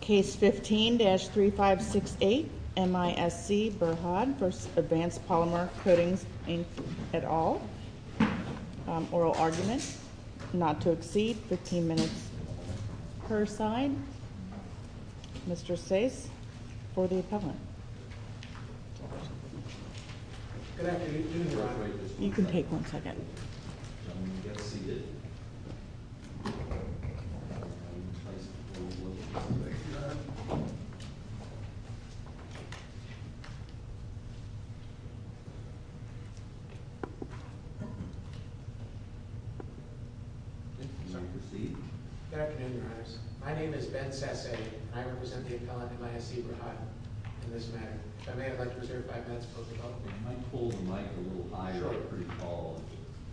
Case 15-3568 MISC Berhad v. Advanced Polymer Coatings Inc. et al. Oral argument not to exceed 15 minutes per side. Mr. Stace for the appellant. Good afternoon, Your Honor. You can take one second. Good afternoon, Your Honor. My name is Ben Stace, and I represent the appellant in MISC Berhad in this matter. If I may, I'd like to reserve five minutes before we vote. Can you pull the mic a little higher? Sure.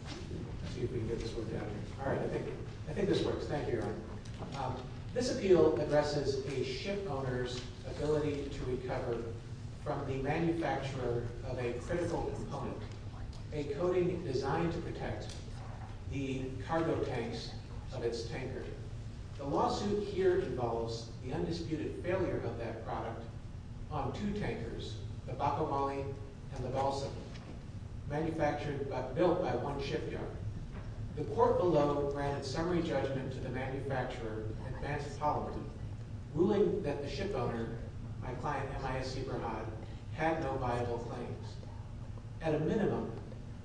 I see if we can get this worked out. All right. I think this works. Thank you, Your Honor. This appeal addresses a ship owner's ability to recover from the manufacturer of a critical component, a coating designed to protect the cargo tanks of its tanker. The lawsuit here involves the undisputed failure of that product on two tankers, the Bacomali and the Balsam, built by one shipyard. The court below granted summary judgment to the manufacturer, Advanced Polymer, ruling that the ship owner, my client MISC Berhad, had no viable claims. At a minimum,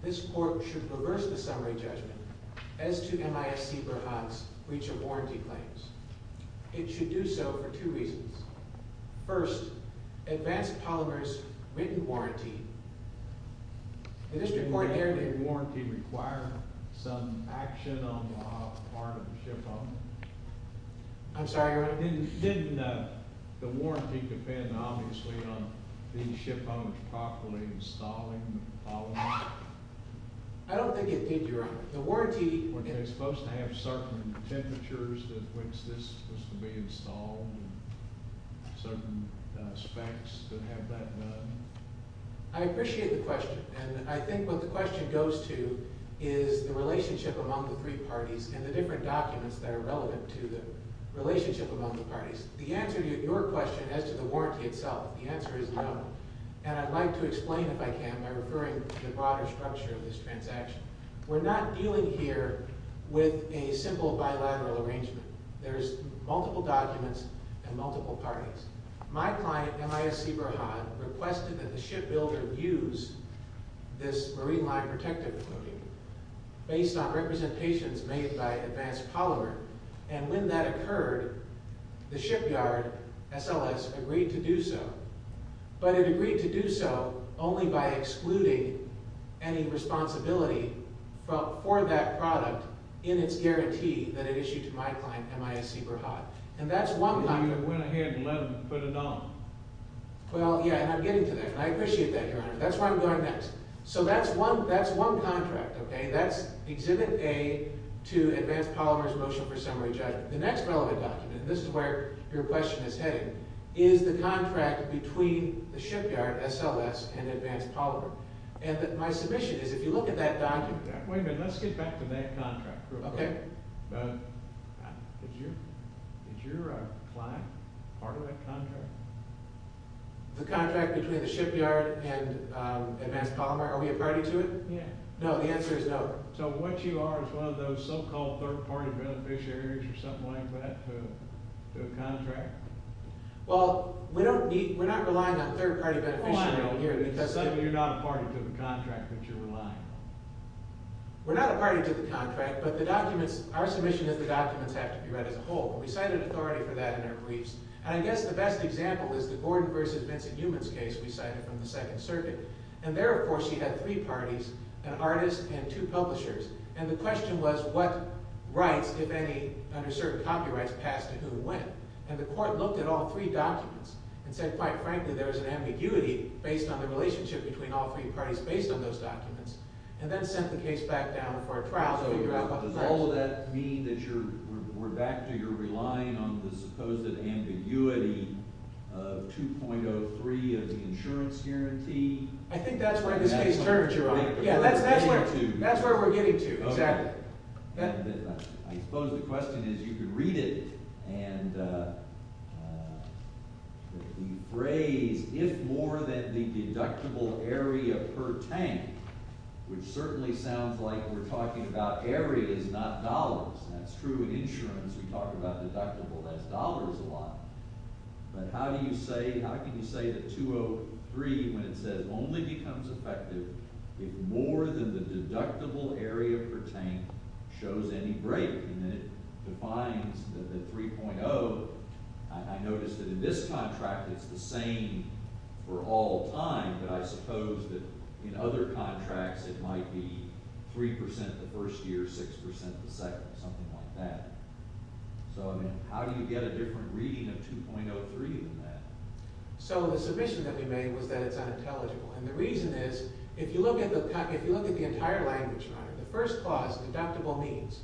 this court should reverse the summary judgment as to MISC Berhad's breach of warranty claims. It should do so for two reasons. First, Advanced Polymer's written warranty, the district court here— Didn't the written warranty require some action on the part of the ship owner? I'm sorry, Your Honor? Didn't the warranty depend, obviously, on the ship owner properly installing the polymer? I don't think it did, Your Honor. The warranty— Were they supposed to have certain temperatures at which this was to be installed and certain specs to have that done? I appreciate the question. And I think what the question goes to is the relationship among the three parties and the different documents that are relevant to the relationship among the parties. The answer to your question as to the warranty itself, the answer is no. And I'd like to explain, if I can, by referring to the broader structure of this transaction. We're not dealing here with a simple bilateral arrangement. There's multiple documents and multiple parties. My client, MISC Berhad, requested that the shipbuilder use this marine line protective coating based on representations made by Advanced Polymer. And when that occurred, the shipyard, SLS, agreed to do so. But it agreed to do so only by excluding any responsibility for that product in its guarantee that it issued to my client, MISC Berhad. And that's one contract— So you went ahead and let them put it on? Well, yeah, and I'm getting to that. And I appreciate that, Your Honor. That's where I'm going next. So that's one contract, okay? That's Exhibit A to Advanced Polymer's Motion for Summary Judgment. The next relevant document, and this is where your question is heading, is the contract between the shipyard, SLS, and Advanced Polymer. And my submission is, if you look at that document— Wait a minute. Let's get back to that contract real quick. Okay. Did your client part of that contract? The contract between the shipyard and Advanced Polymer? Are we a party to it? Yeah. No, the answer is no. So what you are is one of those so-called third-party beneficiaries or something like that to a contract? Well, we don't need—we're not relying on third-party beneficiaries here. Well, I know, but you're not a party to the contract that you're relying on. We're not a party to the contract, but the documents— our submission is the documents have to be read as a whole. And we cited authority for that in our briefs. And I guess the best example is the Gordon v. Vincent Heumann case we cited from the Second Circuit. And there, of course, she had three parties, an artist and two publishers. And the question was what rights, if any, under certain copyrights, passed to who and when. And the court looked at all three documents and said, quite frankly, there was an ambiguity based on the relationship between all three parties based on those documents, and then sent the case back down for a trial to figure out what the facts were. So does all of that mean that you're—we're back to you're relying on the supposed ambiguity of 2.03 of the insurance guarantee? I think that's where this case turns, Your Honor. Yeah, that's where we're getting to, exactly. I suppose the question is you could read it and the phrase, if more than the deductible area per tank, which certainly sounds like we're talking about areas, not dollars. That's true in insurance. We talk about deductible as dollars a lot. But how do you say—how can you say that 2.03, when it says, only becomes effective if more than the deductible area per tank shows any break? And then it defines the 3.0. I noticed that in this contract it's the same for all time, but I suppose that in other contracts it might be 3% the first year, 6% the second, something like that. So, I mean, how do you get a different reading of 2.03 than that? So the submission that we made was that it's unintelligible. And the reason is, if you look at the entire language, Your Honor, the first clause, deductible means.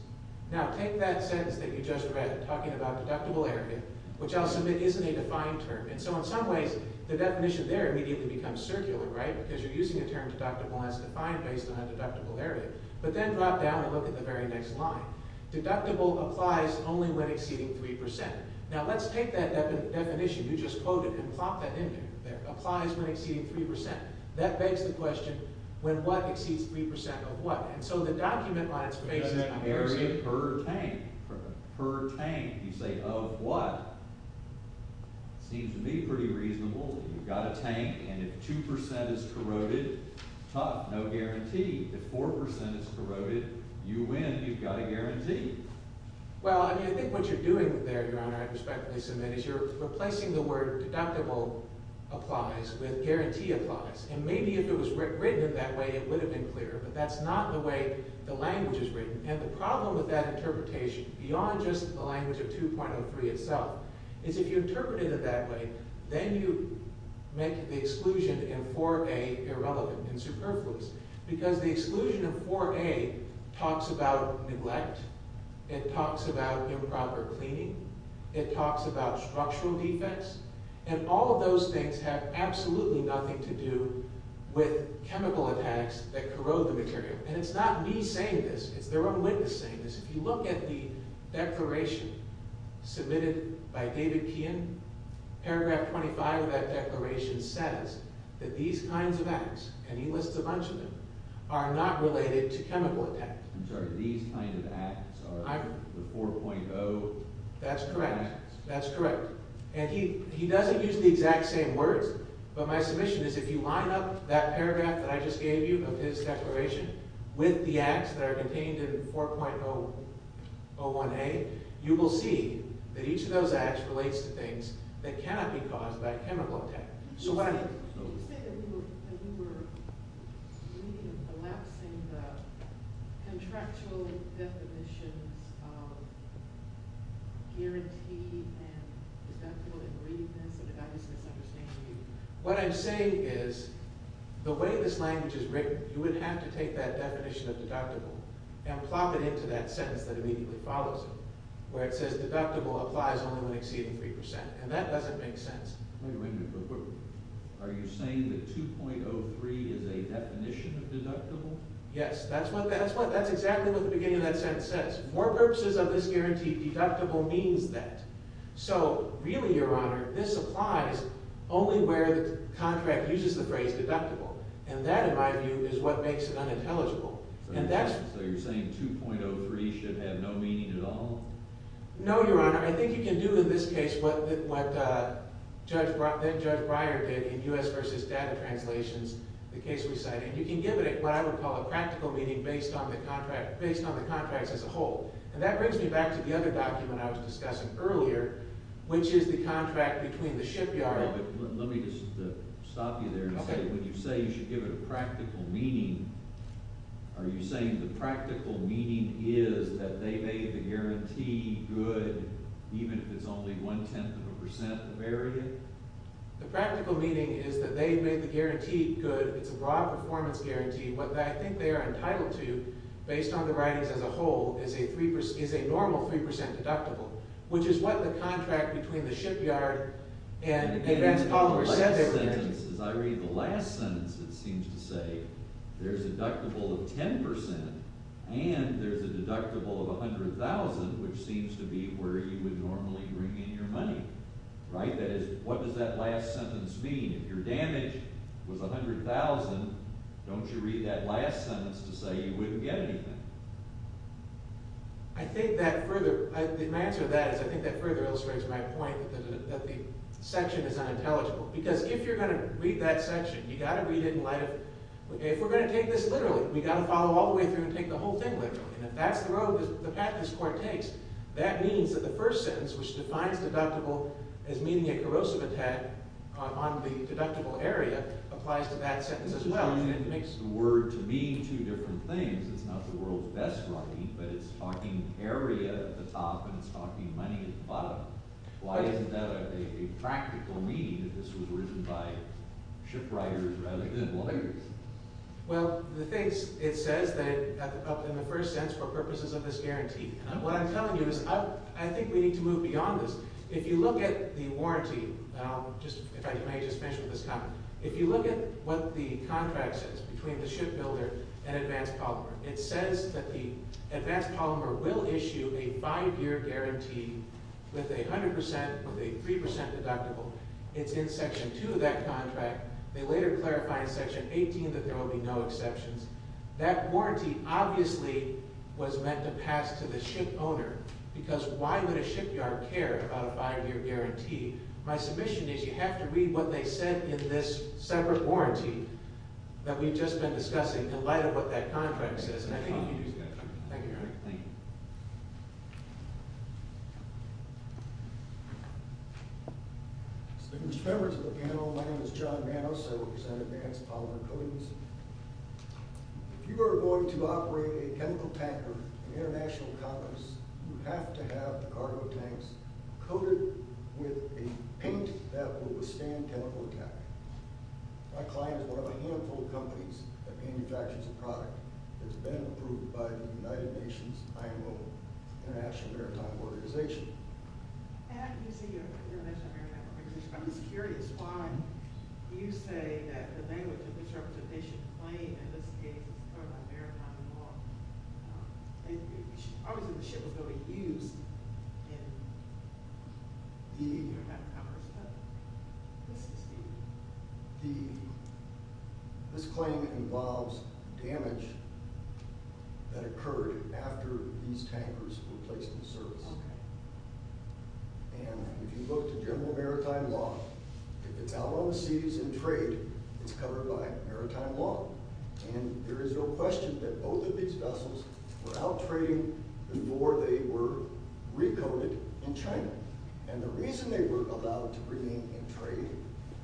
Now take that sentence that you just read, talking about deductible area, which I'll submit isn't a defined term. And so in some ways the definition there immediately becomes circular, right? Because you're using a term deductible as defined based on a deductible area. But then drop down and look at the very next line. Deductible applies only when exceeding 3%. Now let's take that definition you just quoted and plop that in there. It applies when exceeding 3%. That begs the question, when what exceeds 3% of what? And so the document on its basis compares it— You say, of what? Seems to me pretty reasonable. You've got a tank, and if 2% is corroded, huh, no guarantee. If 4% is corroded, you win, you've got a guarantee. Well, I mean, I think what you're doing there, Your Honor, I'd respectfully submit, is you're replacing the word deductible applies with guarantee applies. And maybe if it was written in that way, it would have been clearer. But that's not the way the language is written. And the problem with that interpretation, beyond just the language of 2.03 itself, is if you interpret it that way, then you make the exclusion in 4A irrelevant and superfluous. Because the exclusion in 4A talks about neglect. It talks about improper cleaning. It talks about structural defense. And all of those things have absolutely nothing to do with chemical attacks that corrode the material. And it's not me saying this. It's their own witness saying this. If you look at the declaration submitted by David Keehan, paragraph 25 of that declaration says that these kinds of acts, and he lists a bunch of them, are not related to chemical attacks. I'm sorry, these kinds of acts are the 4.0 chemical attacks. That's correct. That's correct. And he doesn't use the exact same words, but my submission is if you line up that paragraph that I just gave you of his declaration with the acts that are contained in 4.01A, you will see that each of those acts relates to things that cannot be caused by a chemical attack. So what I mean... You said that we were elapsing the contractual definitions of guarantee and deductible ingredients, and I just misunderstand you. What I'm saying is the way this language is written, you would have to take that definition of deductible and plop it into that sentence that immediately follows it, where it says deductible applies only when exceeding 3%, and that doesn't make sense. Wait a minute. Are you saying that 2.03 is a definition of deductible? Yes. That's exactly what the beginning of that sentence says. For purposes of this guarantee, deductible means that. So really, Your Honor, this applies only where the contract uses the phrase deductible, and that, in my view, is what makes it unintelligible. So you're saying 2.03 should have no meaning at all? No, Your Honor. I think you can do in this case what Judge Breyer did in U.S. v. Data Translations, the case we cite, and you can give it what I would call a practical meaning based on the contracts as a whole. And that brings me back to the other document I was discussing earlier, which is the contract between the shipyard Let me just stop you there and say when you say you should give it a practical meaning, are you saying the practical meaning is that they made the guarantee good even if it's only one-tenth of a percent of area? The practical meaning is that they made the guarantee good. It's a broad performance guarantee. What I think they are entitled to based on the writings as a whole is a normal 3 percent deductible, which is what the contract between the shipyard and Vance Pollard said they were going to do. As I read the last sentence, it seems to say there's a deductible of 10 percent and there's a deductible of $100,000, which seems to be where you would normally bring in your money. Right? What does that last sentence mean? If your damage was $100,000, don't you read that last sentence to say you wouldn't get anything? I think that further illustrates my point that the section is unintelligible. Because if you're going to read that section, you've got to read it in light of, if we're going to take this literally, we've got to follow all the way through and take the whole thing literally. If that's the road, the path this court takes, that means that the first sentence, which defines deductible as meaning a corrosive attack on the deductible area, applies to that sentence as well. It's using the word to mean two different things. It's not the world's best writing, but it's talking area at the top and it's talking money at the bottom. Why isn't that a practical meaning, that this was written by shipwriters rather than lawyers? Well, the thing is, it says that, in the first sense, for purposes of this guarantee. What I'm telling you is, I think we need to move beyond this. If you look at the warranty, if I may just finish with this comment, if you look at what the contract says between the shipbuilder and Advanced Polymer, it says that the Advanced Polymer will issue a five-year guarantee with a 100%, with a 3% deductible. It's in Section 2 of that contract. They later clarify in Section 18 that there will be no exceptions. That warranty obviously was meant to pass to the shipowner, because why would a shipyard care about a five-year guarantee? My submission is, you have to read what they said in this separate warranty that we've just been discussing, in light of what that contract says. I think you can use that. Thank you. Members of the panel, my name is John Manos. I represent Advanced Polymer Coatings. If you are going to operate a chemical tanker at an international conference, you have to have the cargo tanks coated with a paint that will withstand chemical attack. My client is one of a handful of companies that manufactures the product. It's been approved by the United Nations IMO, International Maritime Organization. I'm just curious why you say that the language of this representation claim, in this case, is part of a maritime law. Obviously, the ship is going to be used in international commerce, but this is the... This claim involves damage that occurred after these tankers were placed in the service. If you look to general maritime law, if it's out on the seas in trade, it's covered by maritime law. There is no question that both of these vessels were out trading before they were re-coated in China. The reason they were allowed to remain in trade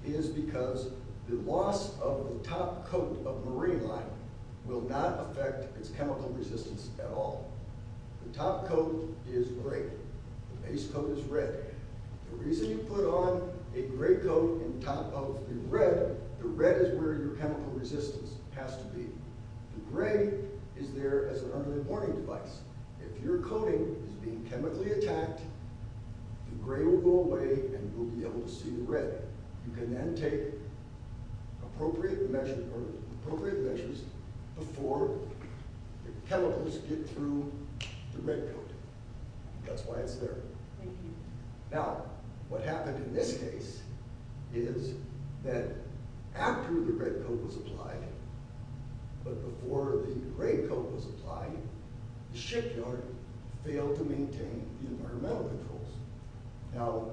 is because the loss of the top coat of marine line will not affect its chemical resistance at all. The top coat is gray. The base coat is red. The reason you put on a gray coat on top of the red, the red is where your chemical resistance has to be. The gray is there as an early warning device. If your coating is being chemically attacked, the gray will go away and you'll be able to see the red. You can then take appropriate measures before the chemicals get through the red coat. That's why it's there. Now, what happened in this case is that after the red coat was applied, but before the gray coat was applied, the shipyard failed to maintain the environmental controls. Now,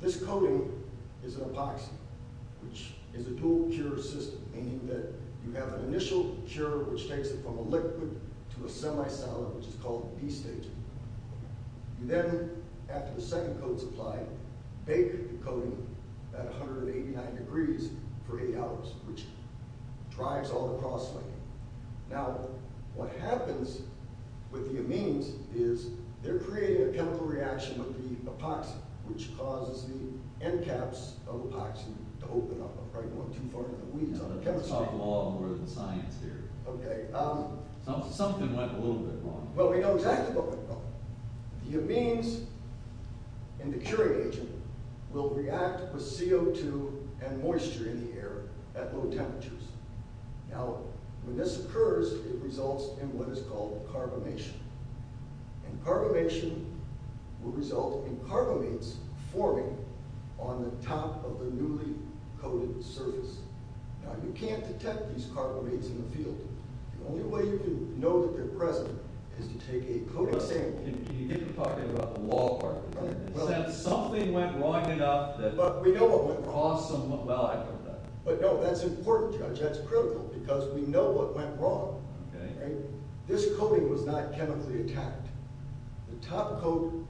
this coating is an epoxy, which is a dual-cure system, meaning that you have an initial cure, which takes it from a liquid to a semi-solid, which is called B-stage. You then, after the second coat is applied, bake the coating at 189 degrees for eight hours, which drives all the cross-laying. Now, what happens with the amines is they're creating a chemical reaction with the epoxy, which causes the end caps of the epoxy to open up. I'm probably going too far into the weeds on chemistry. You're talking a lot more than science here. Okay. Something went a little bit wrong. Well, we know exactly what went wrong. The amines in the curing agent will react with CO2 and moisture in the air at low temperatures. Now, when this occurs, it results in what is called carbamation. And carbamation will result in carbamates forming on the top of the newly-coated surface. Now, you can't detect these carbamates in the field. The only way you can know that they're present is to take a coating sample. Can you get to talking about the law part of it? Right. Is that something went wrong enough that you can cross some of that? But, no, that's important, Judge. That's critical because we know what went wrong. Okay. Right? This coating was not chemically attacked. The top coat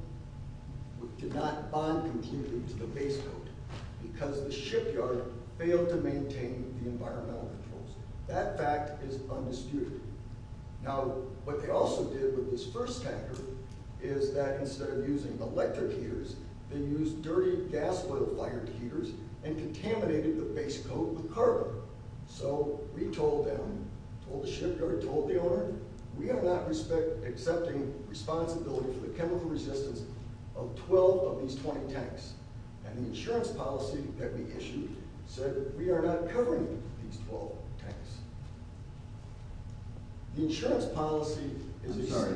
did not bond completely to the base coat because the shipyard failed to maintain the environmental controls. That fact is undisputed. Now, what they also did with this first tanker is that instead of using electric heaters, they used dirty gas-fired heaters and contaminated the base coat with carbon. So we told them, told the shipyard, told the owner, we are not accepting responsibility for the chemical resistance of 12 of these 20 tanks. And the insurance policy that we issued said we are not covering these 12 tanks. The insurance policy is the same. I'm sorry.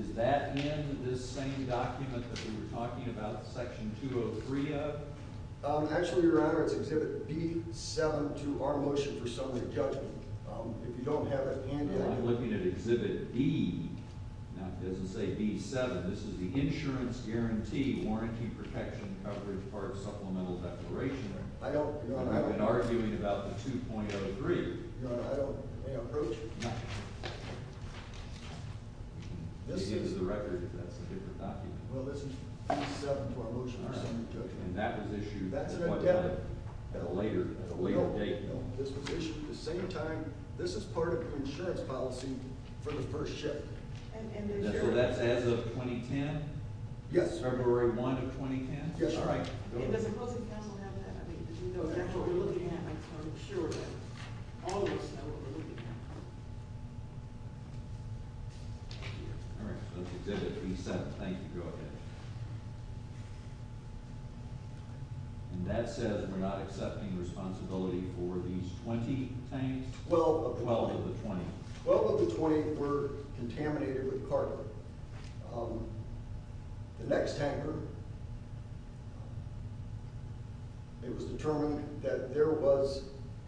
Is that in this same document that we were talking about Section 203 of? Actually, Your Honor, it's Exhibit B-7 to our motion for summary judgment. If you don't have that handout. Well, I'm looking at Exhibit D. Now, it doesn't say B-7. This is the Insurance Guarantee Warranty Protection Coverage Part Supplemental Declaration. You've been arguing about the 2.03. Your Honor, I don't have an approach. No. This is the record. That's a different document. Well, this is B-7 to our motion for summary judgment. And that was issued at a later date. No, this was issued at the same time. This is part of the insurance policy for the first ship. And so that's as of 2010? Yes. February 1 of 2010? Yes, Your Honor. And does the closing counsel have that? Because we know that's what we're looking at. I'm sure that all of us know what we're looking at. All right, so that's Exhibit B-7. Thank you, Your Honor. And that says we're not accepting responsibility for these 20 tanks? Twelve of the 20. Twelve of the 20 were contaminated with carbon. The next tanker, it was determined that there was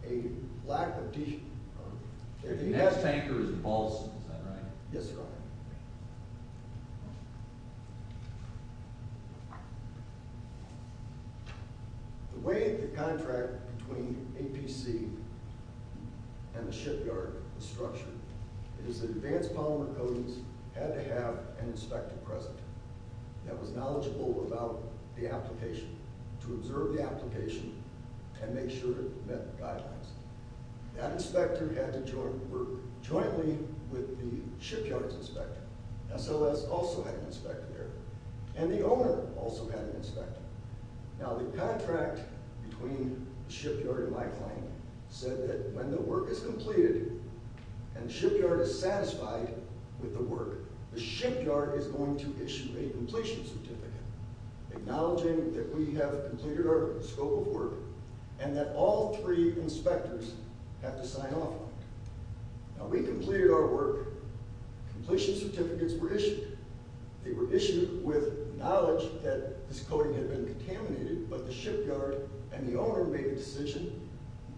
a lack of detail. The next tanker is in Ballston, is that right? Yes, Your Honor. The way the contract between APC and the shipyard was structured is that Advanced Polymer Coatings had to have an inspector present that was knowledgeable about the application, to observe the application and make sure it met guidelines. That inspector had to work jointly with the shipyard's inspector. SOS also had an inspector there. And the owner also had an inspector. Now, the contract between the shipyard and my client said that when the work is completed and the shipyard is satisfied with the work, the shipyard is going to issue a completion certificate acknowledging that we have completed our scope of work and that all three inspectors have to sign off on it. Now, we completed our work. Completion certificates were issued. They were issued with knowledge that this coating had been contaminated, but the shipyard and the owner made a decision,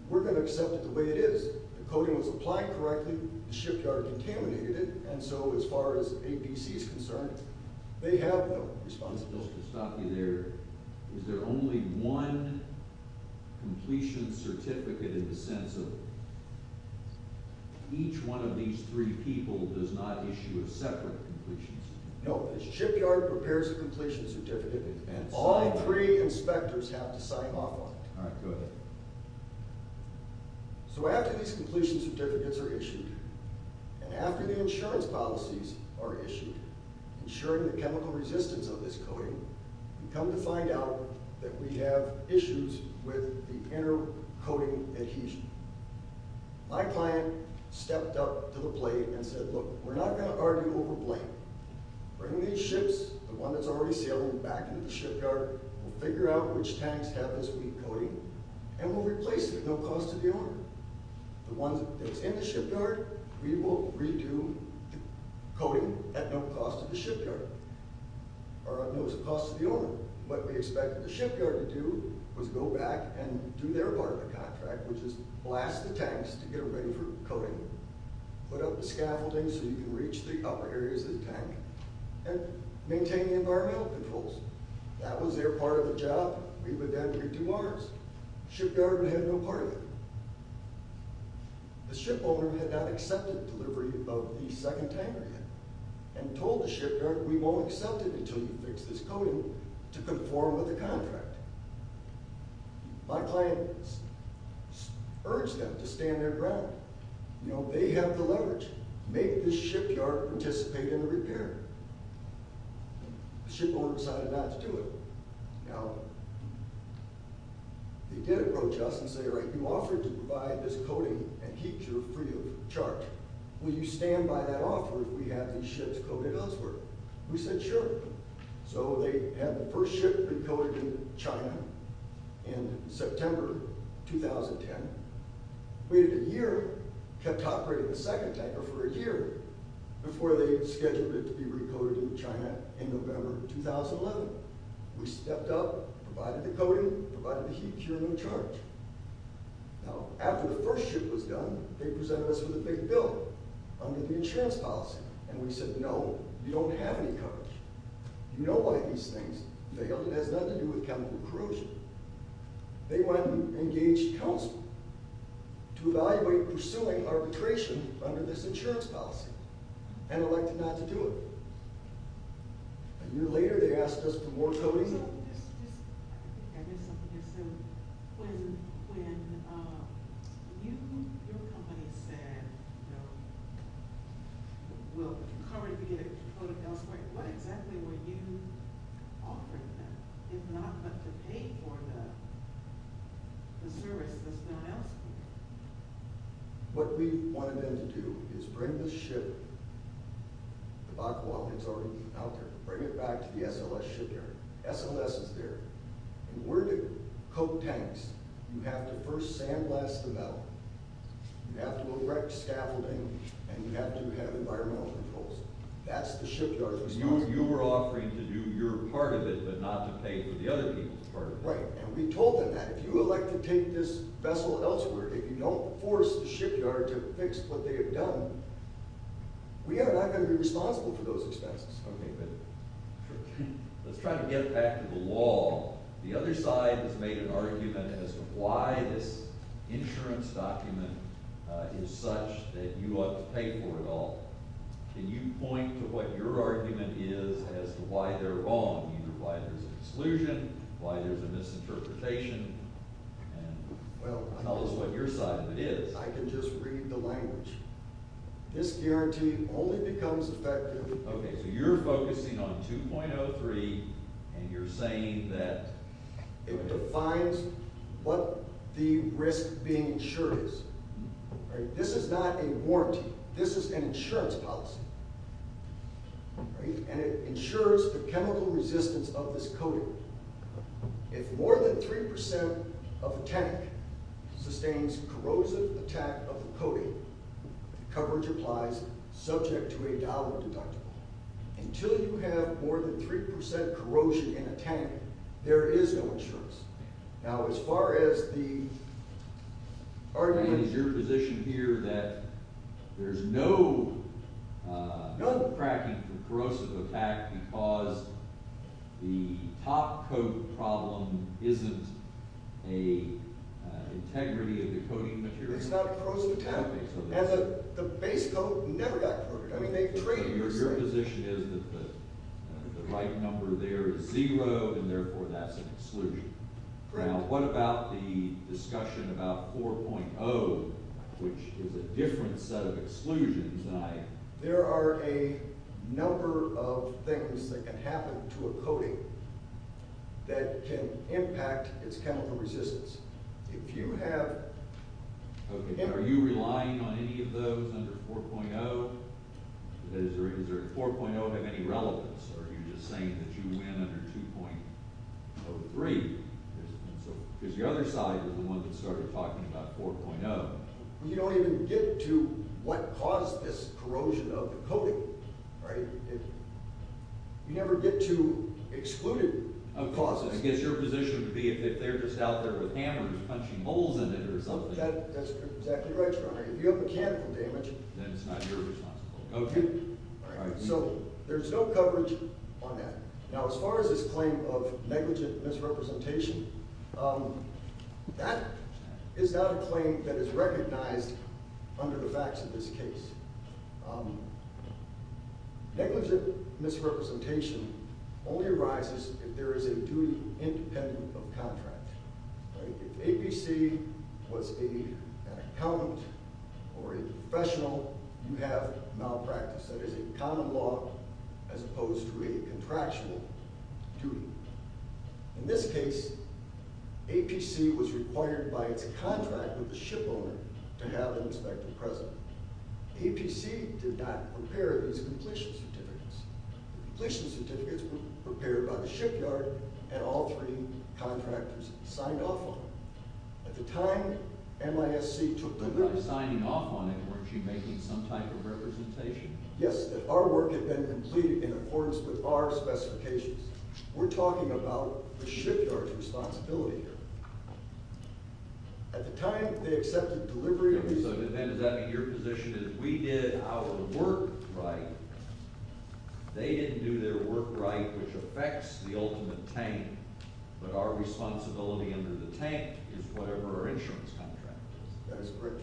we're going to accept it the way it is. The coating was applied correctly, the shipyard contaminated it, and so as far as APC is concerned, they have no responsibility. Just to stop you there, is there only one completion certificate in the sense of each one of these three people does not issue a separate completion certificate? No, the shipyard prepares a completion certificate in advance. All three inspectors have to sign off on it. All right, go ahead. So after these completion certificates are issued and after the insurance policies are issued, ensuring the chemical resistance of this coating, we come to find out that we have issues with the inner coating adhesion. My client stepped up to the plate and said, look, we're not going to argue over blame. Bring these ships, the one that's already sailing, back into the shipyard. We'll figure out which tanks have this weak coating, and we'll replace it at no cost to the owner. The ones that's in the shipyard, we will redo coating at no cost to the shipyard, or at no cost to the owner. What we expected the shipyard to do was go back and do their part of the contract, which is blast the tanks to get them ready for coating. Put up the scaffolding so you can reach the upper areas of the tank and maintain the environmental controls. That was their part of the job. We would then redo ours. The shipyard had no part of it. The shipowner had not accepted delivery of the second tanker yet and told the shipyard, we won't accept it until you fix this coating to conform with the contract. My client urged them to stand their ground. They have the leverage. Make this shipyard participate in the repair. The shipowner decided not to do it. Now, they did approach us and say, you offered to provide this coating and keep your free of charge. Will you stand by that offer if we have these ships coated elsewhere? We said, sure. So they had the first ship recoated in China in September 2010, waited a year, kept operating the second tanker for a year before they scheduled it to be recoated in China in November 2011. We stepped up, provided the coating, provided the heat cure and the charge. Now, after the first ship was done, they presented us with a big bill under the insurance policy. And we said, no, you don't have any coverage. You know why these things fail. It has nothing to do with chemical corrosion. They went and engaged counsel to evaluate pursuing arbitration under this insurance policy and elected not to do it. A year later, they asked us for more coatings. I think I missed something here. So when your company said, you know, we'll cover it if you get it coated elsewhere, what exactly were you offering them, if not to pay for the service that's done elsewhere? What we wanted them to do is bring the ship, the back wall that's already out there, bring it back to the SLS shipyard. SLS is there, and we're going to coat tanks. You have to first sandblast the metal. You have to erect scaffolding, and you have to have environmental controls. That's the shipyard's responsibility. You were offering to do your part of it but not to pay for the other people's part of it. Right, and we told them that if you elect to take this vessel elsewhere, if you don't force the shipyard to fix what they have done, we are not going to be responsible for those expenses. Okay, but let's try to get back to the law. The other side has made an argument as to why this insurance document is such that you ought to pay for it all. Can you point to what your argument is as to why they're wrong, either why there's an exclusion, why there's a misinterpretation, and tell us what your side of it is. I can just read the language. This guarantee only becomes effective Okay, so you're focusing on 2.03, and you're saying that it defines what the risk being insured is. This is not a warranty. This is an insurance policy, and it insures the chemical resistance of this coating. If more than 3% of a tank sustains corrosive attack of the coating, coverage applies, subject to a dollar deductible. Until you have more than 3% corrosion in a tank, there is no insurance. Now, as far as the argument... Is your position here that there's no cracking for corrosive attack because the top coat problem isn't an integrity of the coating material? It's not corrosive attack. And the base coat never got corroded. I mean, they traded... Your position is that the right number there is zero, and therefore that's an exclusion. Correct. Now, what about the discussion about 4.0, which is a different set of exclusions? There are a number of things that can happen to a coating that can impact its chemical resistance. If you have... Are you relying on any of those under 4.0? Does 4.0 have any relevance, or are you just saying that you win under 2.03? Because the other side was the one that started talking about 4.0. You don't even get to what caused this corrosion of the coating, right? You never get to excluded causes. I guess your position would be if they're just out there with hammers punching holes in it or something. That's exactly right, Your Honor. If you have mechanical damage... Then it's not your responsibility. Okay. All right. So there's no coverage on that. Now, as far as this claim of negligent misrepresentation, that is not a claim that is recognized under the facts of this case. Negligent misrepresentation only arises if there is a duty independent of contract. If APC was an accountant or a professional, you have malpractice. That is a common law as opposed to a contractual duty. In this case, APC was required by its contract with the shipowner to have an inspector present. APC did not prepare these completion certificates. The completion certificates were prepared by the shipyard and all three contractors signed off on them. At the time, MISC took the liberty... By signing off on it, weren't you making some type of representation? Yes, that our work had been completed in accordance with our specifications. We're talking about the shipyard's responsibility here. At the time, they accepted delivery... Does that mean your position is we did our work right? They didn't do their work right, which affects the ultimate tank, but our responsibility under the tank is whatever our insurance contract is. That is correct,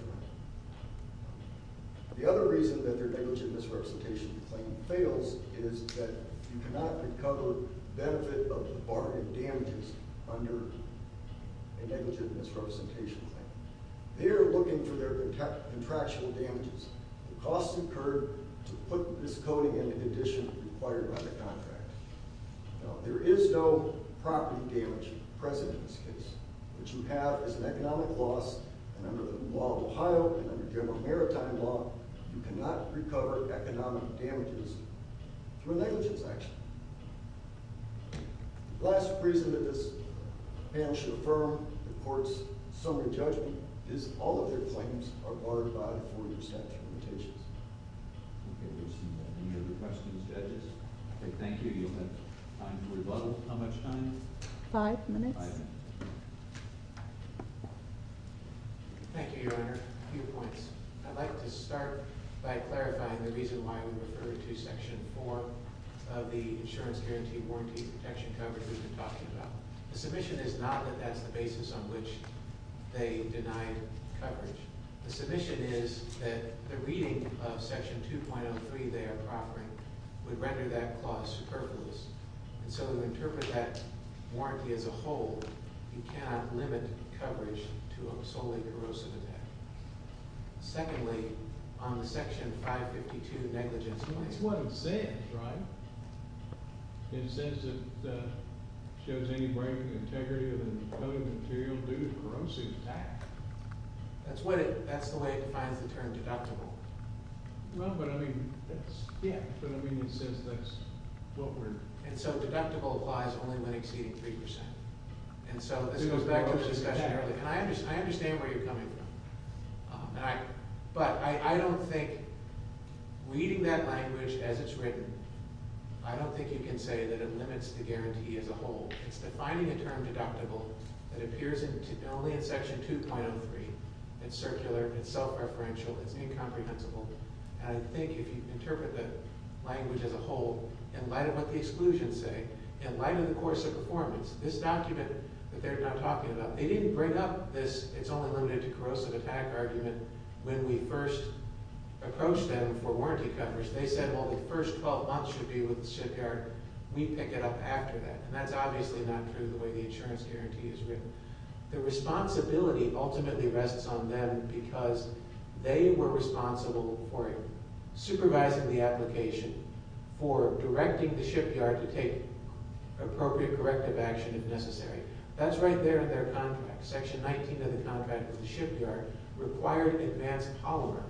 Your Honor. The other reason that their negligent misrepresentation claim fails is that you cannot recover benefit of the bargain damages under a negligent misrepresentation claim. They are looking for their contractual damages. The cost incurred to put this coding into condition required by the contract. Now, there is no property damage present in this case. What you have is an economic loss, and under the law of Ohio and under general maritime law, you cannot recover economic damages through a negligence action. The last reason that this panel should affirm the court's summary judgment is all of their claims are barred by the four-year statute of limitations. Okay, we've seen that. Any other questions, judges? Okay, thank you. You'll have time for rebuttal. How much time? Five minutes. Thank you, Your Honor. A few points. I'd like to start by clarifying the reason why we refer to Section 4 of the Insurance Guarantee Warranty Protection Coverage we've been talking about. The submission is not that that's the basis on which they denied coverage. The submission is that the reading of Section 2.03 there, proffering, would render that clause superfluous, and so to interpret that warranty as a whole, you cannot limit coverage to a solely corrosive attack. Secondly, on the Section 552 negligence claim... That's what it says, right? It says it shows any breaking integrity of the decoded material due to corrosive attack. That's the way it defines the term deductible. Well, but I mean, that's... Yeah. But I mean, it says that's what we're... And so deductible applies only when exceeding 3%. And so this goes back to the discussion earlier. I understand where you're coming from. But I don't think... Reading that language as it's written, I don't think you can say that it limits the guarantee as a whole. It's defining a term deductible that appears only in Section 2.03. It's circular. It's self-referential. It's incomprehensible. And I think if you interpret the language as a whole, in light of what the exclusions say, in light of the course of performance, this document that they're now talking about, they didn't bring up this it's only limited to corrosive attack argument when we first approached them for warranty coverage. They said, well, the first 12 months should be with the shipyard. We pick it up after that. And that's obviously not true the way the insurance guarantee is written. The responsibility ultimately rests on them because they were responsible for supervising the application for directing the shipyard to take appropriate corrective action if necessary. That's right there in their contract. Section 19 of the contract with the shipyard required Advanced Polymer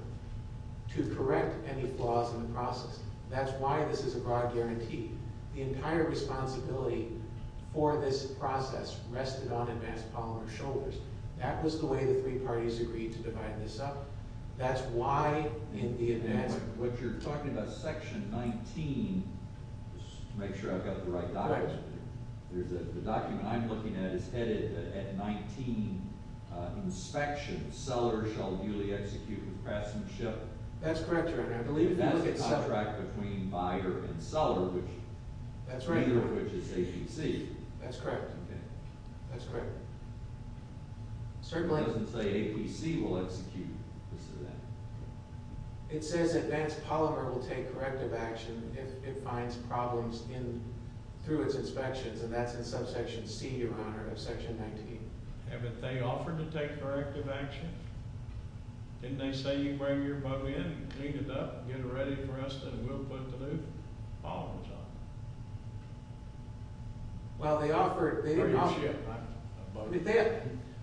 to correct any flaws in the process. That's why this is a broad guarantee. The entire responsibility for this process rested on Advanced Polymer's shoulders. That was the way the three parties agreed to divide this up. What you're talking about is section 19. Just to make sure I've got the right documents. The document I'm looking at is headed at 19. Inspection. Seller shall duly execute with craftsmanship. That's correct, Your Honor. It has a contract between buyer and seller, neither of which is APC. That's correct. That's correct. It doesn't say APC will execute. It says Advanced Polymer will take corrective action if it finds problems through its inspections, and that's in subsection C, Your Honor, of section 19. Haven't they offered to take corrective action? Didn't they say you bring your boat in, clean it up, get it ready for us, and we'll put the new polymers on? Well, they offered...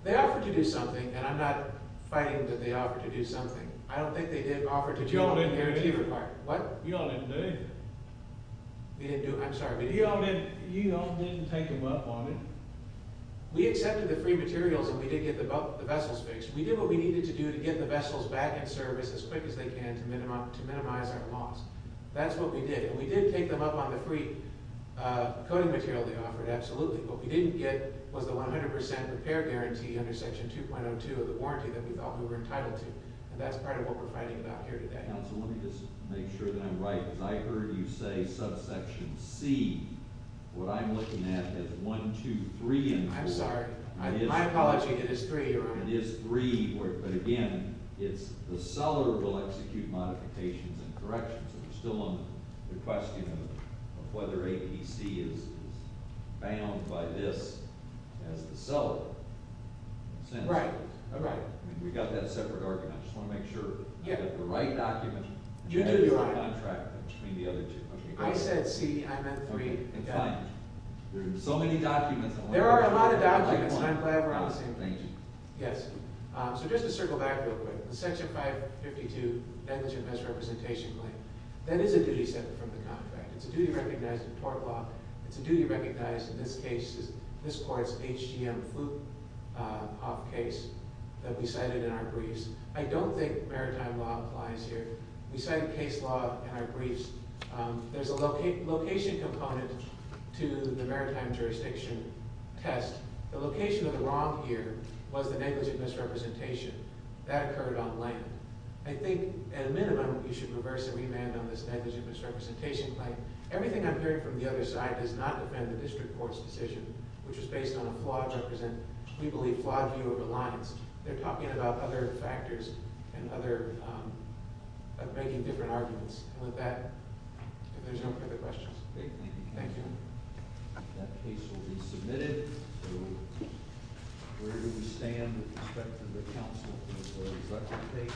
They offered to do something, and I'm not fighting that they offered to do something. I don't think they did offer to do what the guarantee required. You all didn't do anything. We didn't do... I'm sorry. You all didn't take them up on it. We accepted the free materials, and we did get the vessels fixed. We did what we needed to do to get the vessels back in service as quick as they can to minimize our loss. That's what we did, and we did take them up on the free coating material they offered, absolutely. What we didn't get was the 100% repair guarantee under section 2.02 of the warranty that we thought we were entitled to, and that's part of what we're fighting about here today. Counsel, let me just make sure that I'm right. I heard you say subsection C. What I'm looking at is 1, 2, 3, and 4. I'm sorry. My apology. It is 3, Your Honor. It is 3, but again, it's... ...execute modifications and corrections. We're still on the question of whether APC is bound by this as the seller. Right. Right. We got that separate argument. I just want to make sure I got the right document. You do, Your Honor. I said C. I meant 3. There are so many documents. There are a lot of documents, and I'm glad we're on the same page. Yes. So just to circle back real quick, the Section 552 Negligent Misrepresentation Claim, that is a duty separate from the contract. It's a duty recognized in tort law. It's a duty recognized in this case, this court's HGM fluke-off case that we cited in our briefs. I don't think maritime law applies here. We cite case law in our briefs. There's a location component to the maritime jurisdiction test. The location of the wrong here was the negligent misrepresentation. That occurred on land. I think, at a minimum, you should reverse and remand on this negligent misrepresentation claim. Everything I've heard from the other side does not defend the district court's decision, which is based on a flawed represent, we believe, flawed view of reliance. They're talking about other factors and making different arguments. And with that, if there's no further questions. Thank you. That case will be submitted. So we're going to stand with respect to the counsel before we select the case.